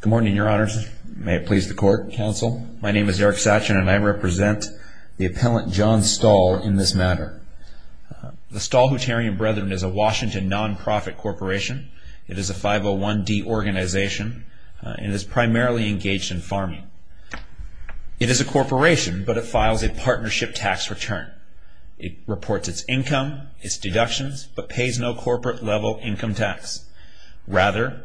Good morning, Your Honors. May it please the Court, Counsel. My name is Eric Satchin and I represent the appellant John Stahl in this matter. The Stahl-Hutterian Brethren is a Washington non-profit corporation. It is a 501-D organization and is primarily engaged in farming. It is a corporation, but it files a partnership tax return. It reports its income, its deductions, but pays no corporate-level income tax. Rather,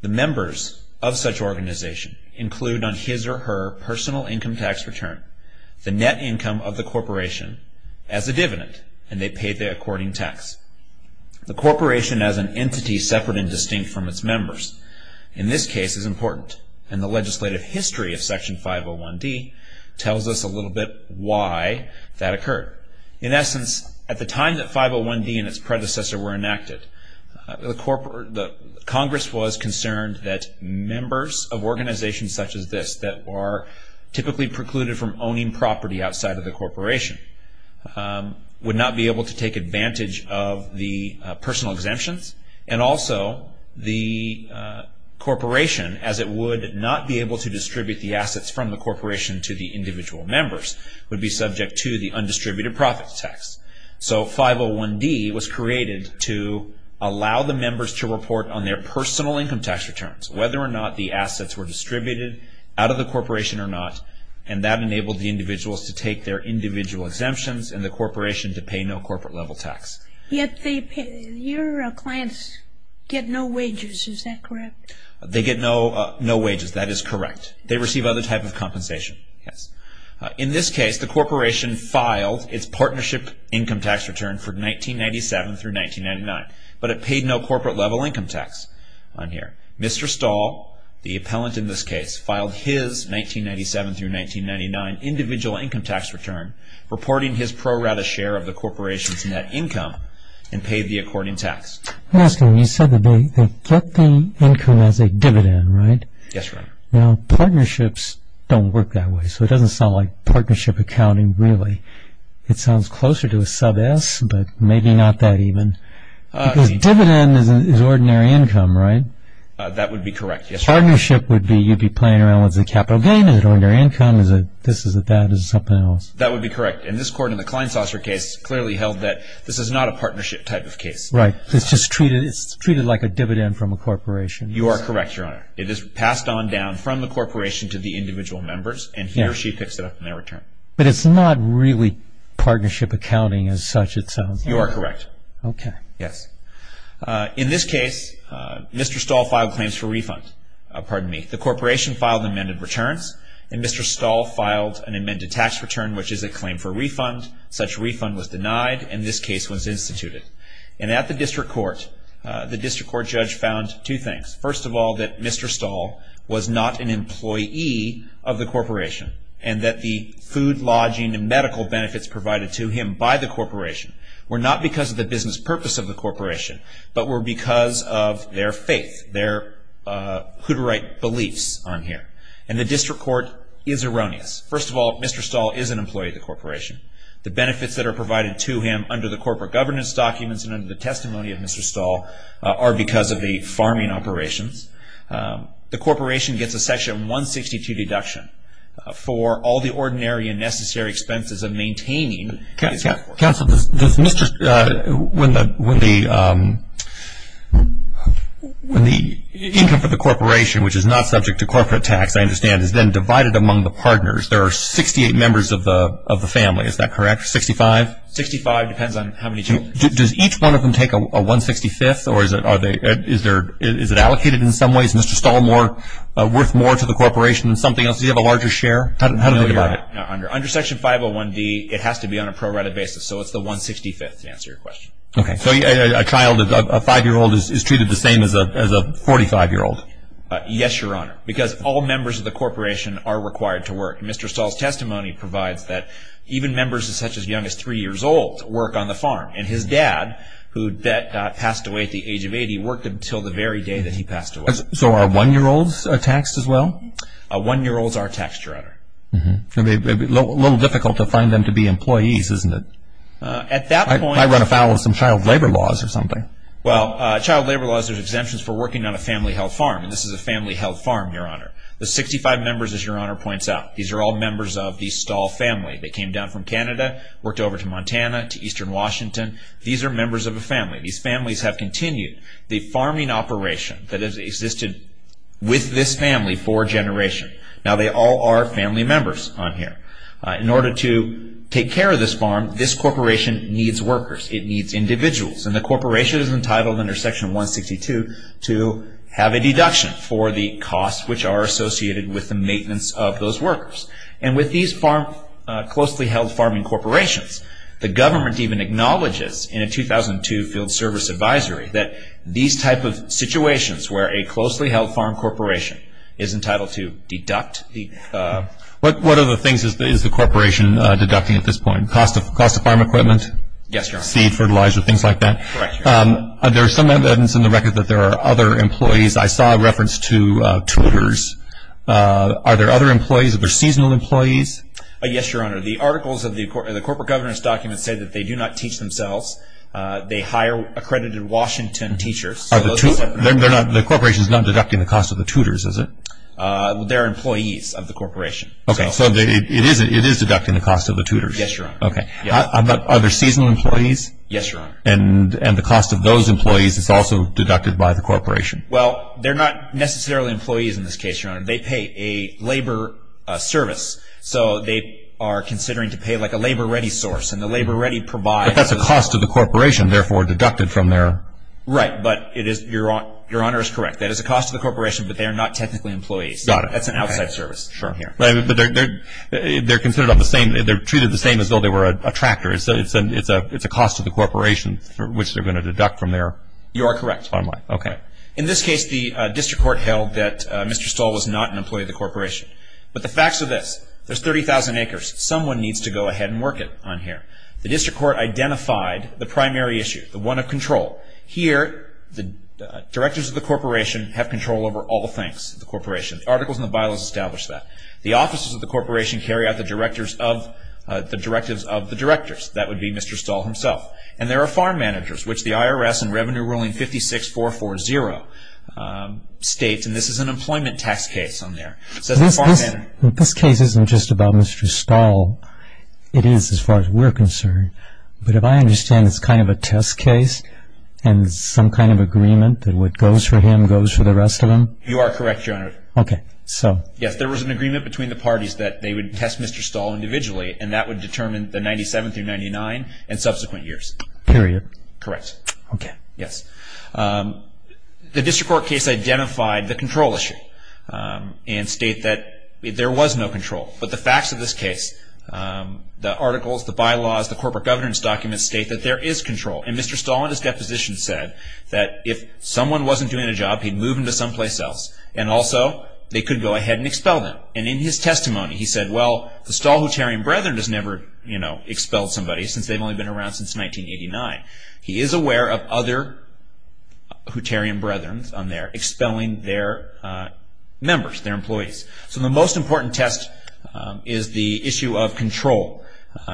the members of such organization include on his or her personal income tax return the net income of the corporation as a dividend, and they pay the according tax. The corporation as an entity separate and distinct from its members in this case is important, and the legislative history of Section 501-D tells us a little bit why that occurred. In essence, at the time that 501-D and its predecessor were enacted, Congress was concerned that members of organizations such as this that are typically precluded from owning property outside of the corporation would not be able to take advantage of the personal exemptions, and also the corporation, as it would not be able to distribute the assets from the corporation to the individual members, would be subject to the undistributed profits tax. So 501-D was created to allow the members to report on their personal income tax returns, whether or not the assets were distributed out of the corporation or not, and that enabled the individuals to take their individual exemptions and the corporation to pay no corporate-level tax. Your clients get no wages, is that correct? They get no wages, that is correct. They receive other types of compensation, yes. In this case, the corporation filed its partnership income tax return for 1997 through 1999, but it paid no corporate-level income tax on here. Mr. Stahl, the appellant in this case, filed his 1997 through 1999 individual income tax return, reporting his pro rata share of the corporation's net income, and paid the according tax. I'm asking, you said that they get the income as a dividend, right? Yes, Your Honor. Now, partnerships don't work that way, so it doesn't sound like partnership accounting, really. It sounds closer to a sub S, but maybe not that even, because dividend is ordinary income, right? That would be correct, yes, Your Honor. Partnership would be, you'd be playing around with the capital gain, is it ordinary income, is it this, is it that, is it something else? That would be correct, and this court in the Kleinsasser case clearly held that this is not a partnership type of case. Right, it's just treated like a dividend from a corporation. You are correct, Your Honor. It is passed on down from the corporation to the individual members, and he or she picks it up in their return. But it's not really partnership accounting as such, it sounds. You are correct. Okay. Yes. In this case, Mr. Stahl filed claims for refund. Pardon me. The corporation filed amended returns, and Mr. Stahl filed an amended tax return, which is a claim for refund. Such refund was denied, and this case was instituted. And at the district court, the district court judge found two things. First of all, that Mr. Stahl was not an employee of the corporation, and that the food, lodging, and medical benefits provided to him by the corporation were not because of the business purpose of the corporation, but were because of their faith, their hoodooite beliefs on here. And the district court is erroneous. First of all, Mr. Stahl is an employee of the corporation. The benefits that are provided to him under the corporate governance documents and under the testimony of Mr. Stahl are because of the farming operations. The corporation gets a section 162 deduction for all the ordinary and necessary expenses of maintaining his workforce. Counsel, when the income for the corporation, which is not subject to corporate tax, I understand, is then divided among the partners, there are 68 members of the family. Is that correct, 65? 65 depends on how many children. Does each one of them take a 165th, or is it allocated in some ways? Is Mr. Stahl worth more to the corporation than something else? Does he have a larger share? No, you're right. Under Section 501D, it has to be on a prorated basis, so it's the 165th to answer your question. Okay. So a child, a 5-year-old, is treated the same as a 45-year-old? Yes, Your Honor, because all members of the corporation are required to work. Mr. Stahl's testimony provides that even members as such as young as 3 years old work on the farm, and his dad, who passed away at the age of 80, worked until the very day that he passed away. So are 1-year-olds taxed as well? 1-year-olds are taxed, Your Honor. It would be a little difficult to find them to be employees, isn't it? At that point. I run afoul of some child labor laws or something. Well, child labor laws are exemptions for working on a family-held farm, and this is a family-held farm, Your Honor. The 65 members, as Your Honor points out, these are all members of the Stahl family. They came down from Canada, worked over to Montana, to eastern Washington. These are members of a family. These families have continued the farming operation that has existed with this family for a generation. Now, they all are family members on here. In order to take care of this farm, this corporation needs workers. It needs individuals, and the corporation is entitled under Section 162 to have a deduction for the costs, which are associated with the maintenance of those workers. And with these closely-held farming corporations, the government even acknowledges in a 2002 field service advisory that these type of situations where a closely-held farm corporation is entitled to deduct the- What other things is the corporation deducting at this point? Cost of farm equipment? Yes, Your Honor. Seed, fertilizer, things like that? Correct, Your Honor. There are some evidence in the record that there are other employees. I saw a reference to tutors. Are there other employees? Are there seasonal employees? Yes, Your Honor. The articles of the corporate governance documents say that they do not teach themselves. They hire accredited Washington teachers. The corporation is not deducting the cost of the tutors, is it? They're employees of the corporation. Okay, so it is deducting the cost of the tutors. Yes, Your Honor. Okay. Are there seasonal employees? Yes, Your Honor. And the cost of those employees is also deducted by the corporation? Well, they're not necessarily employees in this case, Your Honor. They pay a labor service, so they are considering to pay like a labor-ready source, and the labor-ready provides- But that's the cost of the corporation, therefore deducted from their- Right, but Your Honor is correct. That is the cost of the corporation, but they are not technically employees. Got it. That's an outside service. Sure. They're treated the same as though they were a tractor, so it's a cost to the corporation which they're going to deduct from their- You are correct. Okay. In this case, the district court held that Mr. Stoll was not an employee of the corporation. But the facts are this. There's 30,000 acres. Someone needs to go ahead and work it on here. The district court identified the primary issue, the one of control. Here, the directors of the corporation have control over all the things, the corporation. Articles in the Bible establish that. The offices of the corporation carry out the directives of the directors. That would be Mr. Stoll himself. And there are farm managers, which the IRS in Revenue Ruling 56-440 states, and this is an employment tax case on there. This case isn't just about Mr. Stoll. It is as far as we're concerned. But if I understand, it's kind of a test case and some kind of agreement that what goes for him goes for the rest of them? You are correct, Your Honor. Okay. Yes, there was an agreement between the parties that they would test Mr. Stoll individually, and that would determine the 97 through 99 and subsequent years. Period. Correct. Okay. Yes. The district court case identified the control issue and state that there was no control. But the facts of this case, the articles, the bylaws, the corporate governance documents, state that there is control. And Mr. Stoll in his deposition said that if someone wasn't doing a job, he'd move them to someplace else, and also they could go ahead and expel them. And in his testimony, he said, well, the Stoll-Hutterian brethren has never, you know, expelled somebody since they've only been around since 1989. He is aware of other Hutterian brethren on there expelling their members, their employees. So the most important test is the issue of control.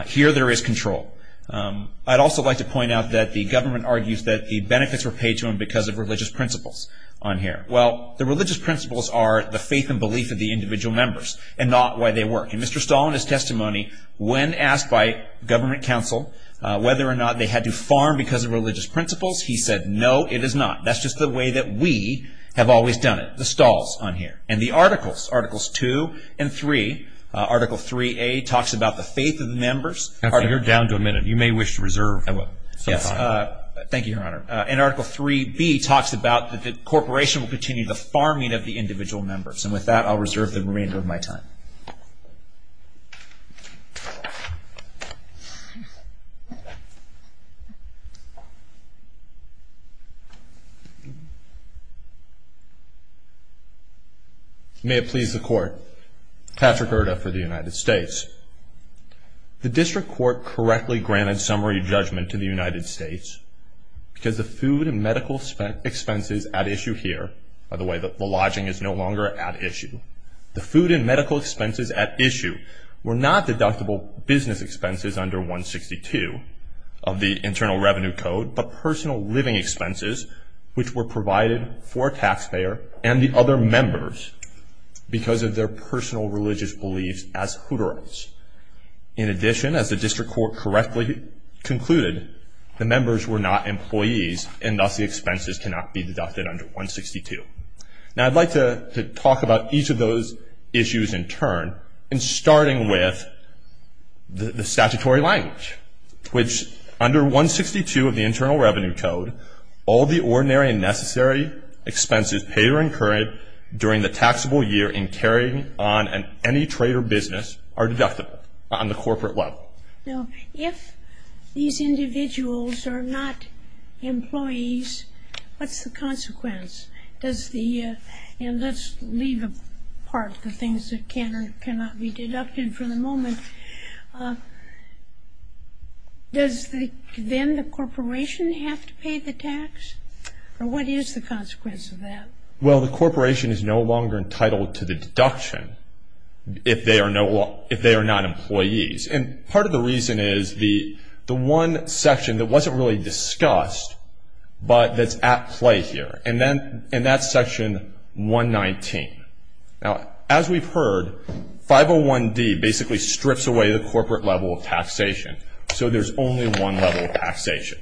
Here there is control. I'd also like to point out that the government argues that the benefits were paid to him because of religious principles on here. Well, the religious principles are the faith and belief of the individual members and not why they work. And Mr. Stoll in his testimony, when asked by government counsel whether or not they had to farm because of religious principles, he said, no, it is not. That's just the way that we have always done it, the Stolls on here. And the articles, Articles 2 and 3, Article 3A talks about the faith of the members. You're down to a minute. You may wish to reserve some time. Thank you, Your Honor. And Article 3B talks about that the corporation will continue the farming of the individual members. And with that, I'll reserve the remainder of my time. May it please the Court. Patrick Erta for the United States. The district court correctly granted summary judgment to the United States because the food and medical expenses at issue here, by the way, the lodging is no longer at issue, the food and medical expenses at issue were not deductible business expenses under 162 of the Internal Revenue Code, but personal living expenses which were provided for a taxpayer and the other members because of their personal religious beliefs as Hutterites. In addition, as the district court correctly concluded, the members were not employees and thus the expenses cannot be deducted under 162. Now, I'd like to talk about each of those issues in turn, and starting with the statutory language, which under 162 of the Internal Revenue Code, all the ordinary and necessary expenses paid or incurred during the taxable year in carrying on any trade or business are deductible on the corporate level. Now, if these individuals are not employees, what's the consequence? Does the, and let's leave apart the things that can or cannot be deducted for the moment, does then the corporation have to pay the tax? Or what is the consequence of that? Well, the corporation is no longer entitled to the deduction if they are not employees. And part of the reason is the one section that wasn't really discussed, but that's at play here, and that's section 119. Now, as we've heard, 501D basically strips away the corporate level of taxation, so there's only one level of taxation.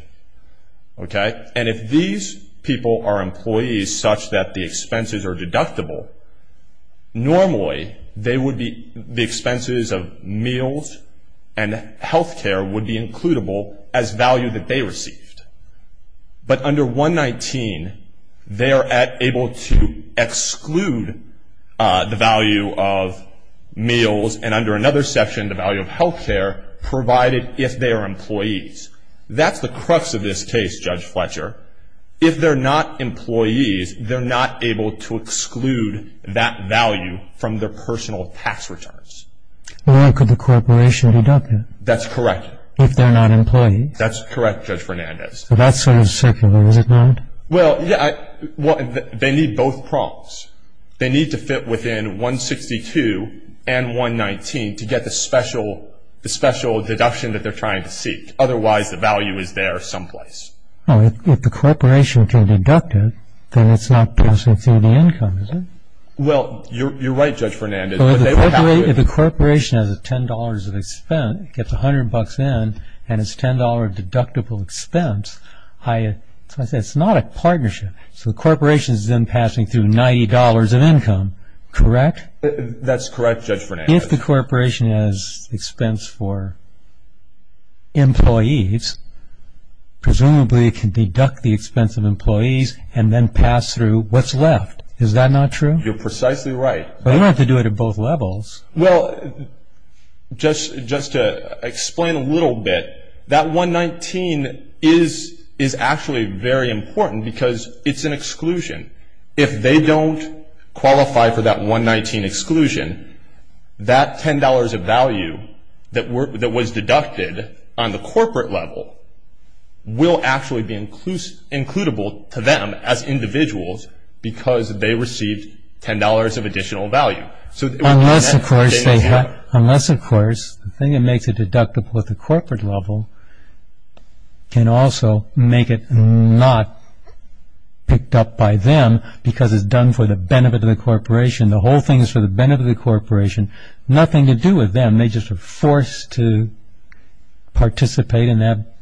And if these people are employees such that the expenses are deductible, normally they would be, the expenses of meals and health care would be includable as value that they received. But under 119, they are able to exclude the value of meals, and under another section, the value of health care provided if they are employees. That's the crux of this case, Judge Fletcher. If they're not employees, they're not able to exclude that value from their personal tax returns. Well, then could the corporation deduct it? That's correct. If they're not employees? That's correct, Judge Fernandez. Well, that's sort of secular, is it not? Well, they need both prongs. They need to fit within 162 and 119 to get the special deduction that they're trying to seek. Otherwise, the value is there someplace. Well, if the corporation can deduct it, then it's not passing through the income, is it? Well, you're right, Judge Fernandez. If the corporation has $10 of expense, gets $100 in, and it's $10 deductible expense, it's not a partnership. So the corporation is then passing through $90 of income, correct? That's correct, Judge Fernandez. If the corporation has expense for employees, presumably it can deduct the expense of employees and then pass through what's left. Is that not true? You're precisely right. Well, you don't have to do it at both levels. Well, just to explain a little bit, that 119 is actually very important because it's an exclusion. If they don't qualify for that 119 exclusion, that $10 of value that was deducted on the corporate level will actually be includable to them as individuals because they received $10 of additional value. Unless, of course, the thing that makes it deductible at the corporate level can also make it not picked up by them because it's done for the benefit of the corporation. The whole thing is for the benefit of the corporation, nothing to do with them. They're just forced to participate in that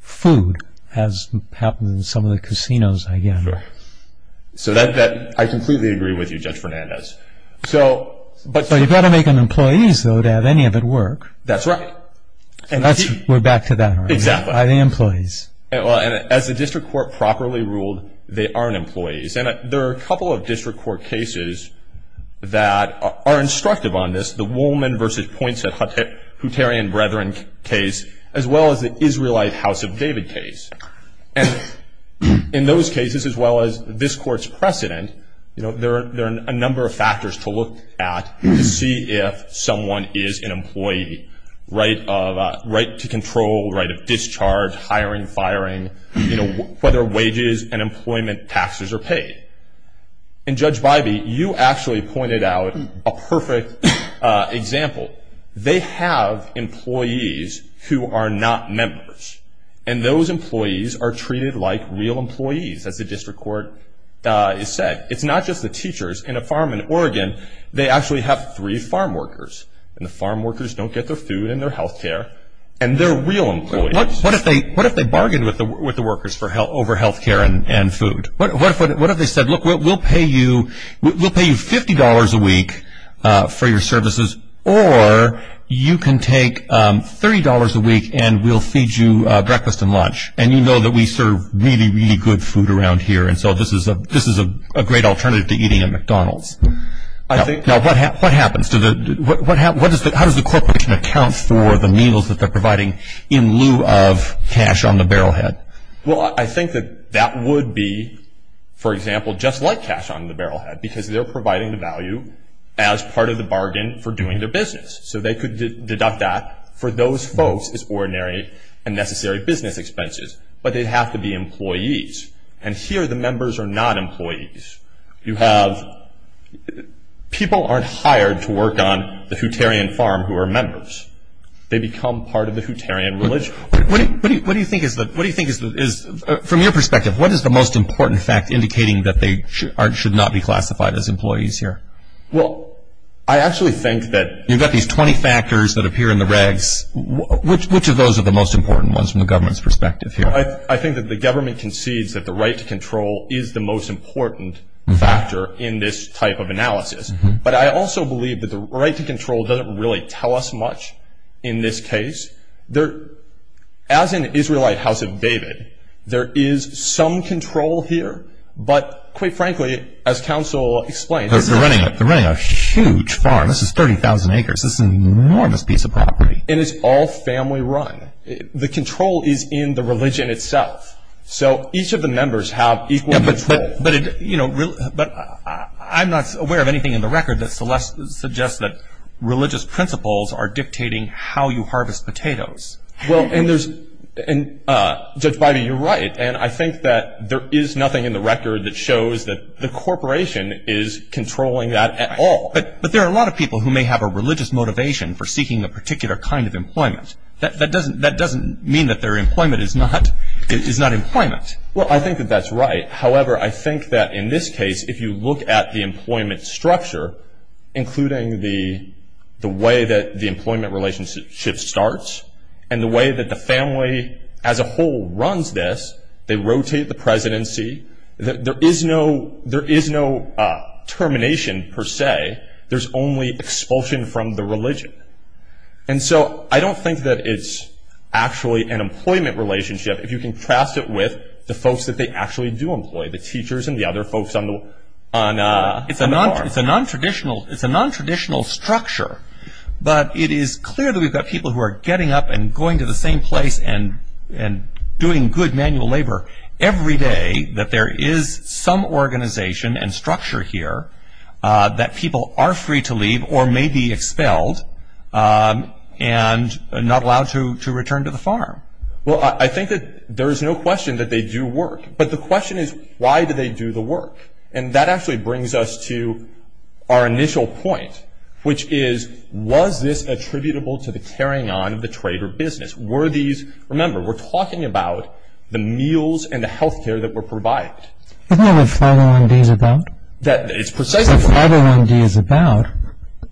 food, as happens in some of the casinos, I gather. I completely agree with you, Judge Fernandez. But you've got to make them employees, though, to have any of it work. That's right. We're back to that. Exactly. By the employees. As the district court properly ruled, they aren't employees. There are a couple of district court cases that are instructive on this, the Woolman v. Poinsett Hutterian Brethren case, as well as the Israelite House of David case. In those cases, as well as this court's precedent, there are a number of factors to look at to see if someone is an employee. Right to control, right of discharge, hiring, firing, whether wages and employment taxes are paid. Judge Bybee, you actually pointed out a perfect example. They have employees who are not members, and those employees are treated like real employees, as the district court has said. It's not just the teachers. In a farm in Oregon, they actually have three farm workers, and the farm workers don't get their food and their health care, and they're real employees. What if they bargained with the workers over health care and food? What if they said, look, we'll pay you $50 a week for your services, or you can take $30 a week and we'll feed you breakfast and lunch, and you know that we serve really, really good food around here, and so this is a great alternative to eating at McDonald's. Now, what happens? How does the corporation account for the meals that they're providing in lieu of cash on the barrel head? Well, I think that that would be, for example, just like cash on the barrel head, because they're providing the value as part of the bargain for doing their business. So they could deduct that for those folks as ordinary and necessary business expenses, but they'd have to be employees. And here the members are not employees. You have people aren't hired to work on the Hutterian farm who are members. They become part of the Hutterian religion. What do you think is the – from your perspective, what is the most important fact indicating that they should not be classified as employees here? Well, I actually think that – You've got these 20 factors that appear in the regs. Which of those are the most important ones from the government's perspective here? I think that the government concedes that the right to control is the most important factor in this type of analysis. But I also believe that the right to control doesn't really tell us much in this case. There – as in Israelite House of David, there is some control here. But quite frankly, as counsel explained – They're running a huge farm. This is 30,000 acres. This is an enormous piece of property. And it's all family run. The control is in the religion itself. So each of the members have equal control. But I'm not aware of anything in the record that suggests that religious principles are dictating how you harvest potatoes. Well, and there's – and Judge Biby, you're right. And I think that there is nothing in the record that shows that the corporation is controlling that at all. But there are a lot of people who may have a religious motivation for seeking a particular kind of employment. That doesn't mean that their employment is not employment. Well, I think that that's right. However, I think that in this case, if you look at the employment structure, including the way that the employment relationship starts and the way that the family as a whole runs this, they rotate the presidency. There is no termination per se. There's only expulsion from the religion. And so I don't think that it's actually an employment relationship if you contrast it with the folks that they actually do employ, the teachers and the other folks on the farm. It's a nontraditional structure. But it is clear that we've got people who are getting up and going to the same place and doing good manual labor every day, that there is some organization and structure here that people are free to leave or may be expelled and not allowed to return to the farm. Well, I think that there is no question that they do work. But the question is, why do they do the work? And that actually brings us to our initial point, which is was this attributable to the carrying on of the trade or business? Remember, we're talking about the meals and the health care that were provided. Isn't that what 501D is about? It's precisely what 501D is about.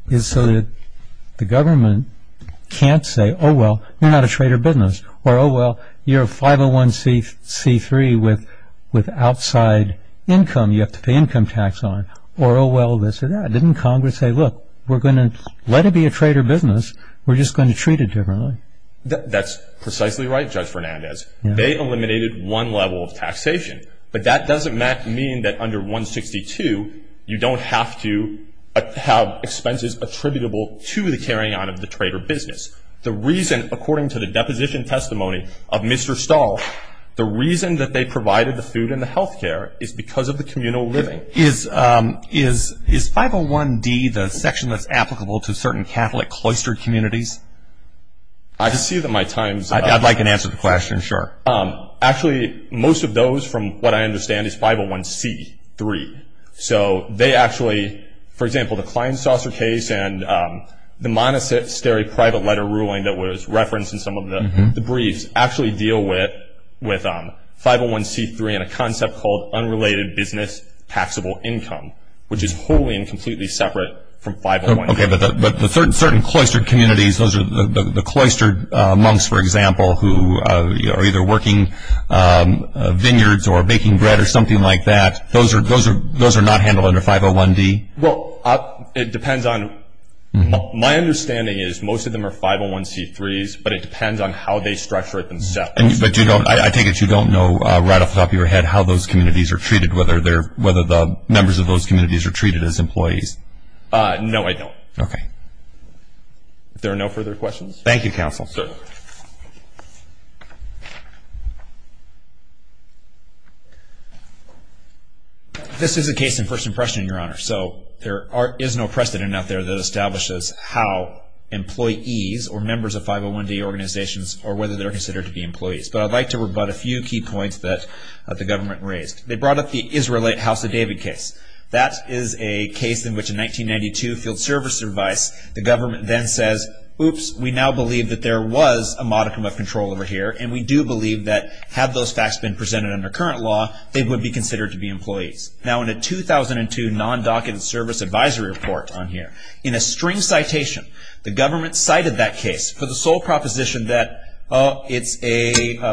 It's so that the government can't say, oh, well, you're not a trade or business. Or, oh, well, you're a 501C3 with outside income you have to pay income tax on. Or, oh, well, this or that. Didn't Congress say, look, we're going to let it be a trade or business. We're just going to treat it differently. That's precisely right, Judge Fernandez. They eliminated one level of taxation. But that doesn't mean that under 162, you don't have to have expenses attributable to the carrying on of the trade or business. The reason, according to the deposition testimony of Mr. Stahl, the reason that they provided the food and the health care is because of the communal living. Is 501D the section that's applicable to certain Catholic cloistered communities? I see that my time's up. I'd like an answer to the question, sure. Actually, most of those, from what I understand, is 501C3. So they actually, for example, the Klein-Saucer case and the Monastery private letter ruling that was referenced in some of the briefs, actually deal with 501C3 and a concept called unrelated business taxable income, which is wholly and completely separate from 501C3. Okay, but the certain cloistered communities, those are the cloistered monks, for example, who are either working vineyards or baking bread or something like that. Those are not handled under 501D? Well, it depends on my understanding is most of them are 501C3s, but it depends on how they structure it themselves. I take it you don't know right off the top of your head how those communities are treated, whether the members of those communities are treated as employees. No, I don't. Okay. If there are no further questions. Thank you, counsel. Yes, sir. This is a case in first impression, Your Honor, so there is no precedent out there that establishes how employees or members of 501D organizations or whether they're considered to be employees. But I'd like to rebut a few key points that the government raised. They brought up the Israelite House of David case. That is a case in which in 1992 field service advice, the government then says, oops, we now believe that there was a modicum of control over here, and we do believe that had those facts been presented under current law, they would be considered to be employees. Now, in a 2002 non-document service advisory report on here, in a string citation, the government cited that case for the sole proposition that, oh, it's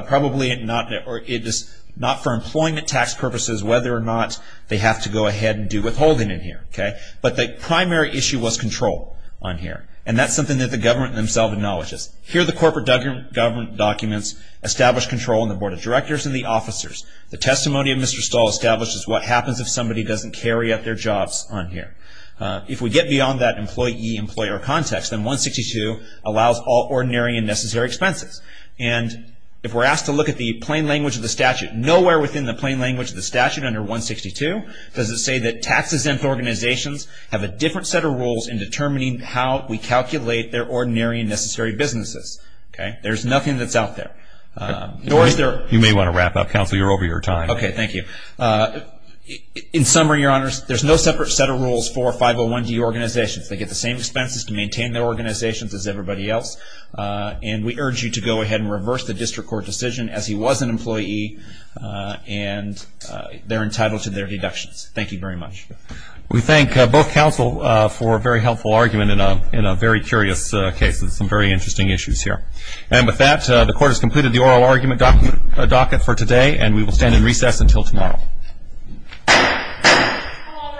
probably not for employment tax purposes, whether or not they have to go ahead and do withholding in here. But the primary issue was control on here, and that's something that the government themselves acknowledges. Here, the corporate government documents establish control on the board of directors and the officers. The testimony of Mr. Stahl establishes what happens if somebody doesn't carry out their jobs on here. If we get beyond that employee-employer context, then 162 allows all ordinary and necessary expenses. And if we're asked to look at the plain language of the statute, nowhere within the plain language of the statute under 162 does it say that tax-exempt organizations have a different set of rules in determining how we calculate their ordinary and necessary businesses. There's nothing that's out there. You may want to wrap up. Counsel, you're over your time. Okay, thank you. In summary, Your Honors, there's no separate set of rules for 501D organizations. They get the same expenses to maintain their organizations as everybody else. And we urge you to go ahead and reverse the district court decision, as he was an employee, and they're entitled to their deductions. Thank you very much. We thank both counsel for a very helpful argument in a very curious case with some very interesting issues here. And with that, the Court has completed the oral argument docket for today, and we will stand in recess until tomorrow. All rise.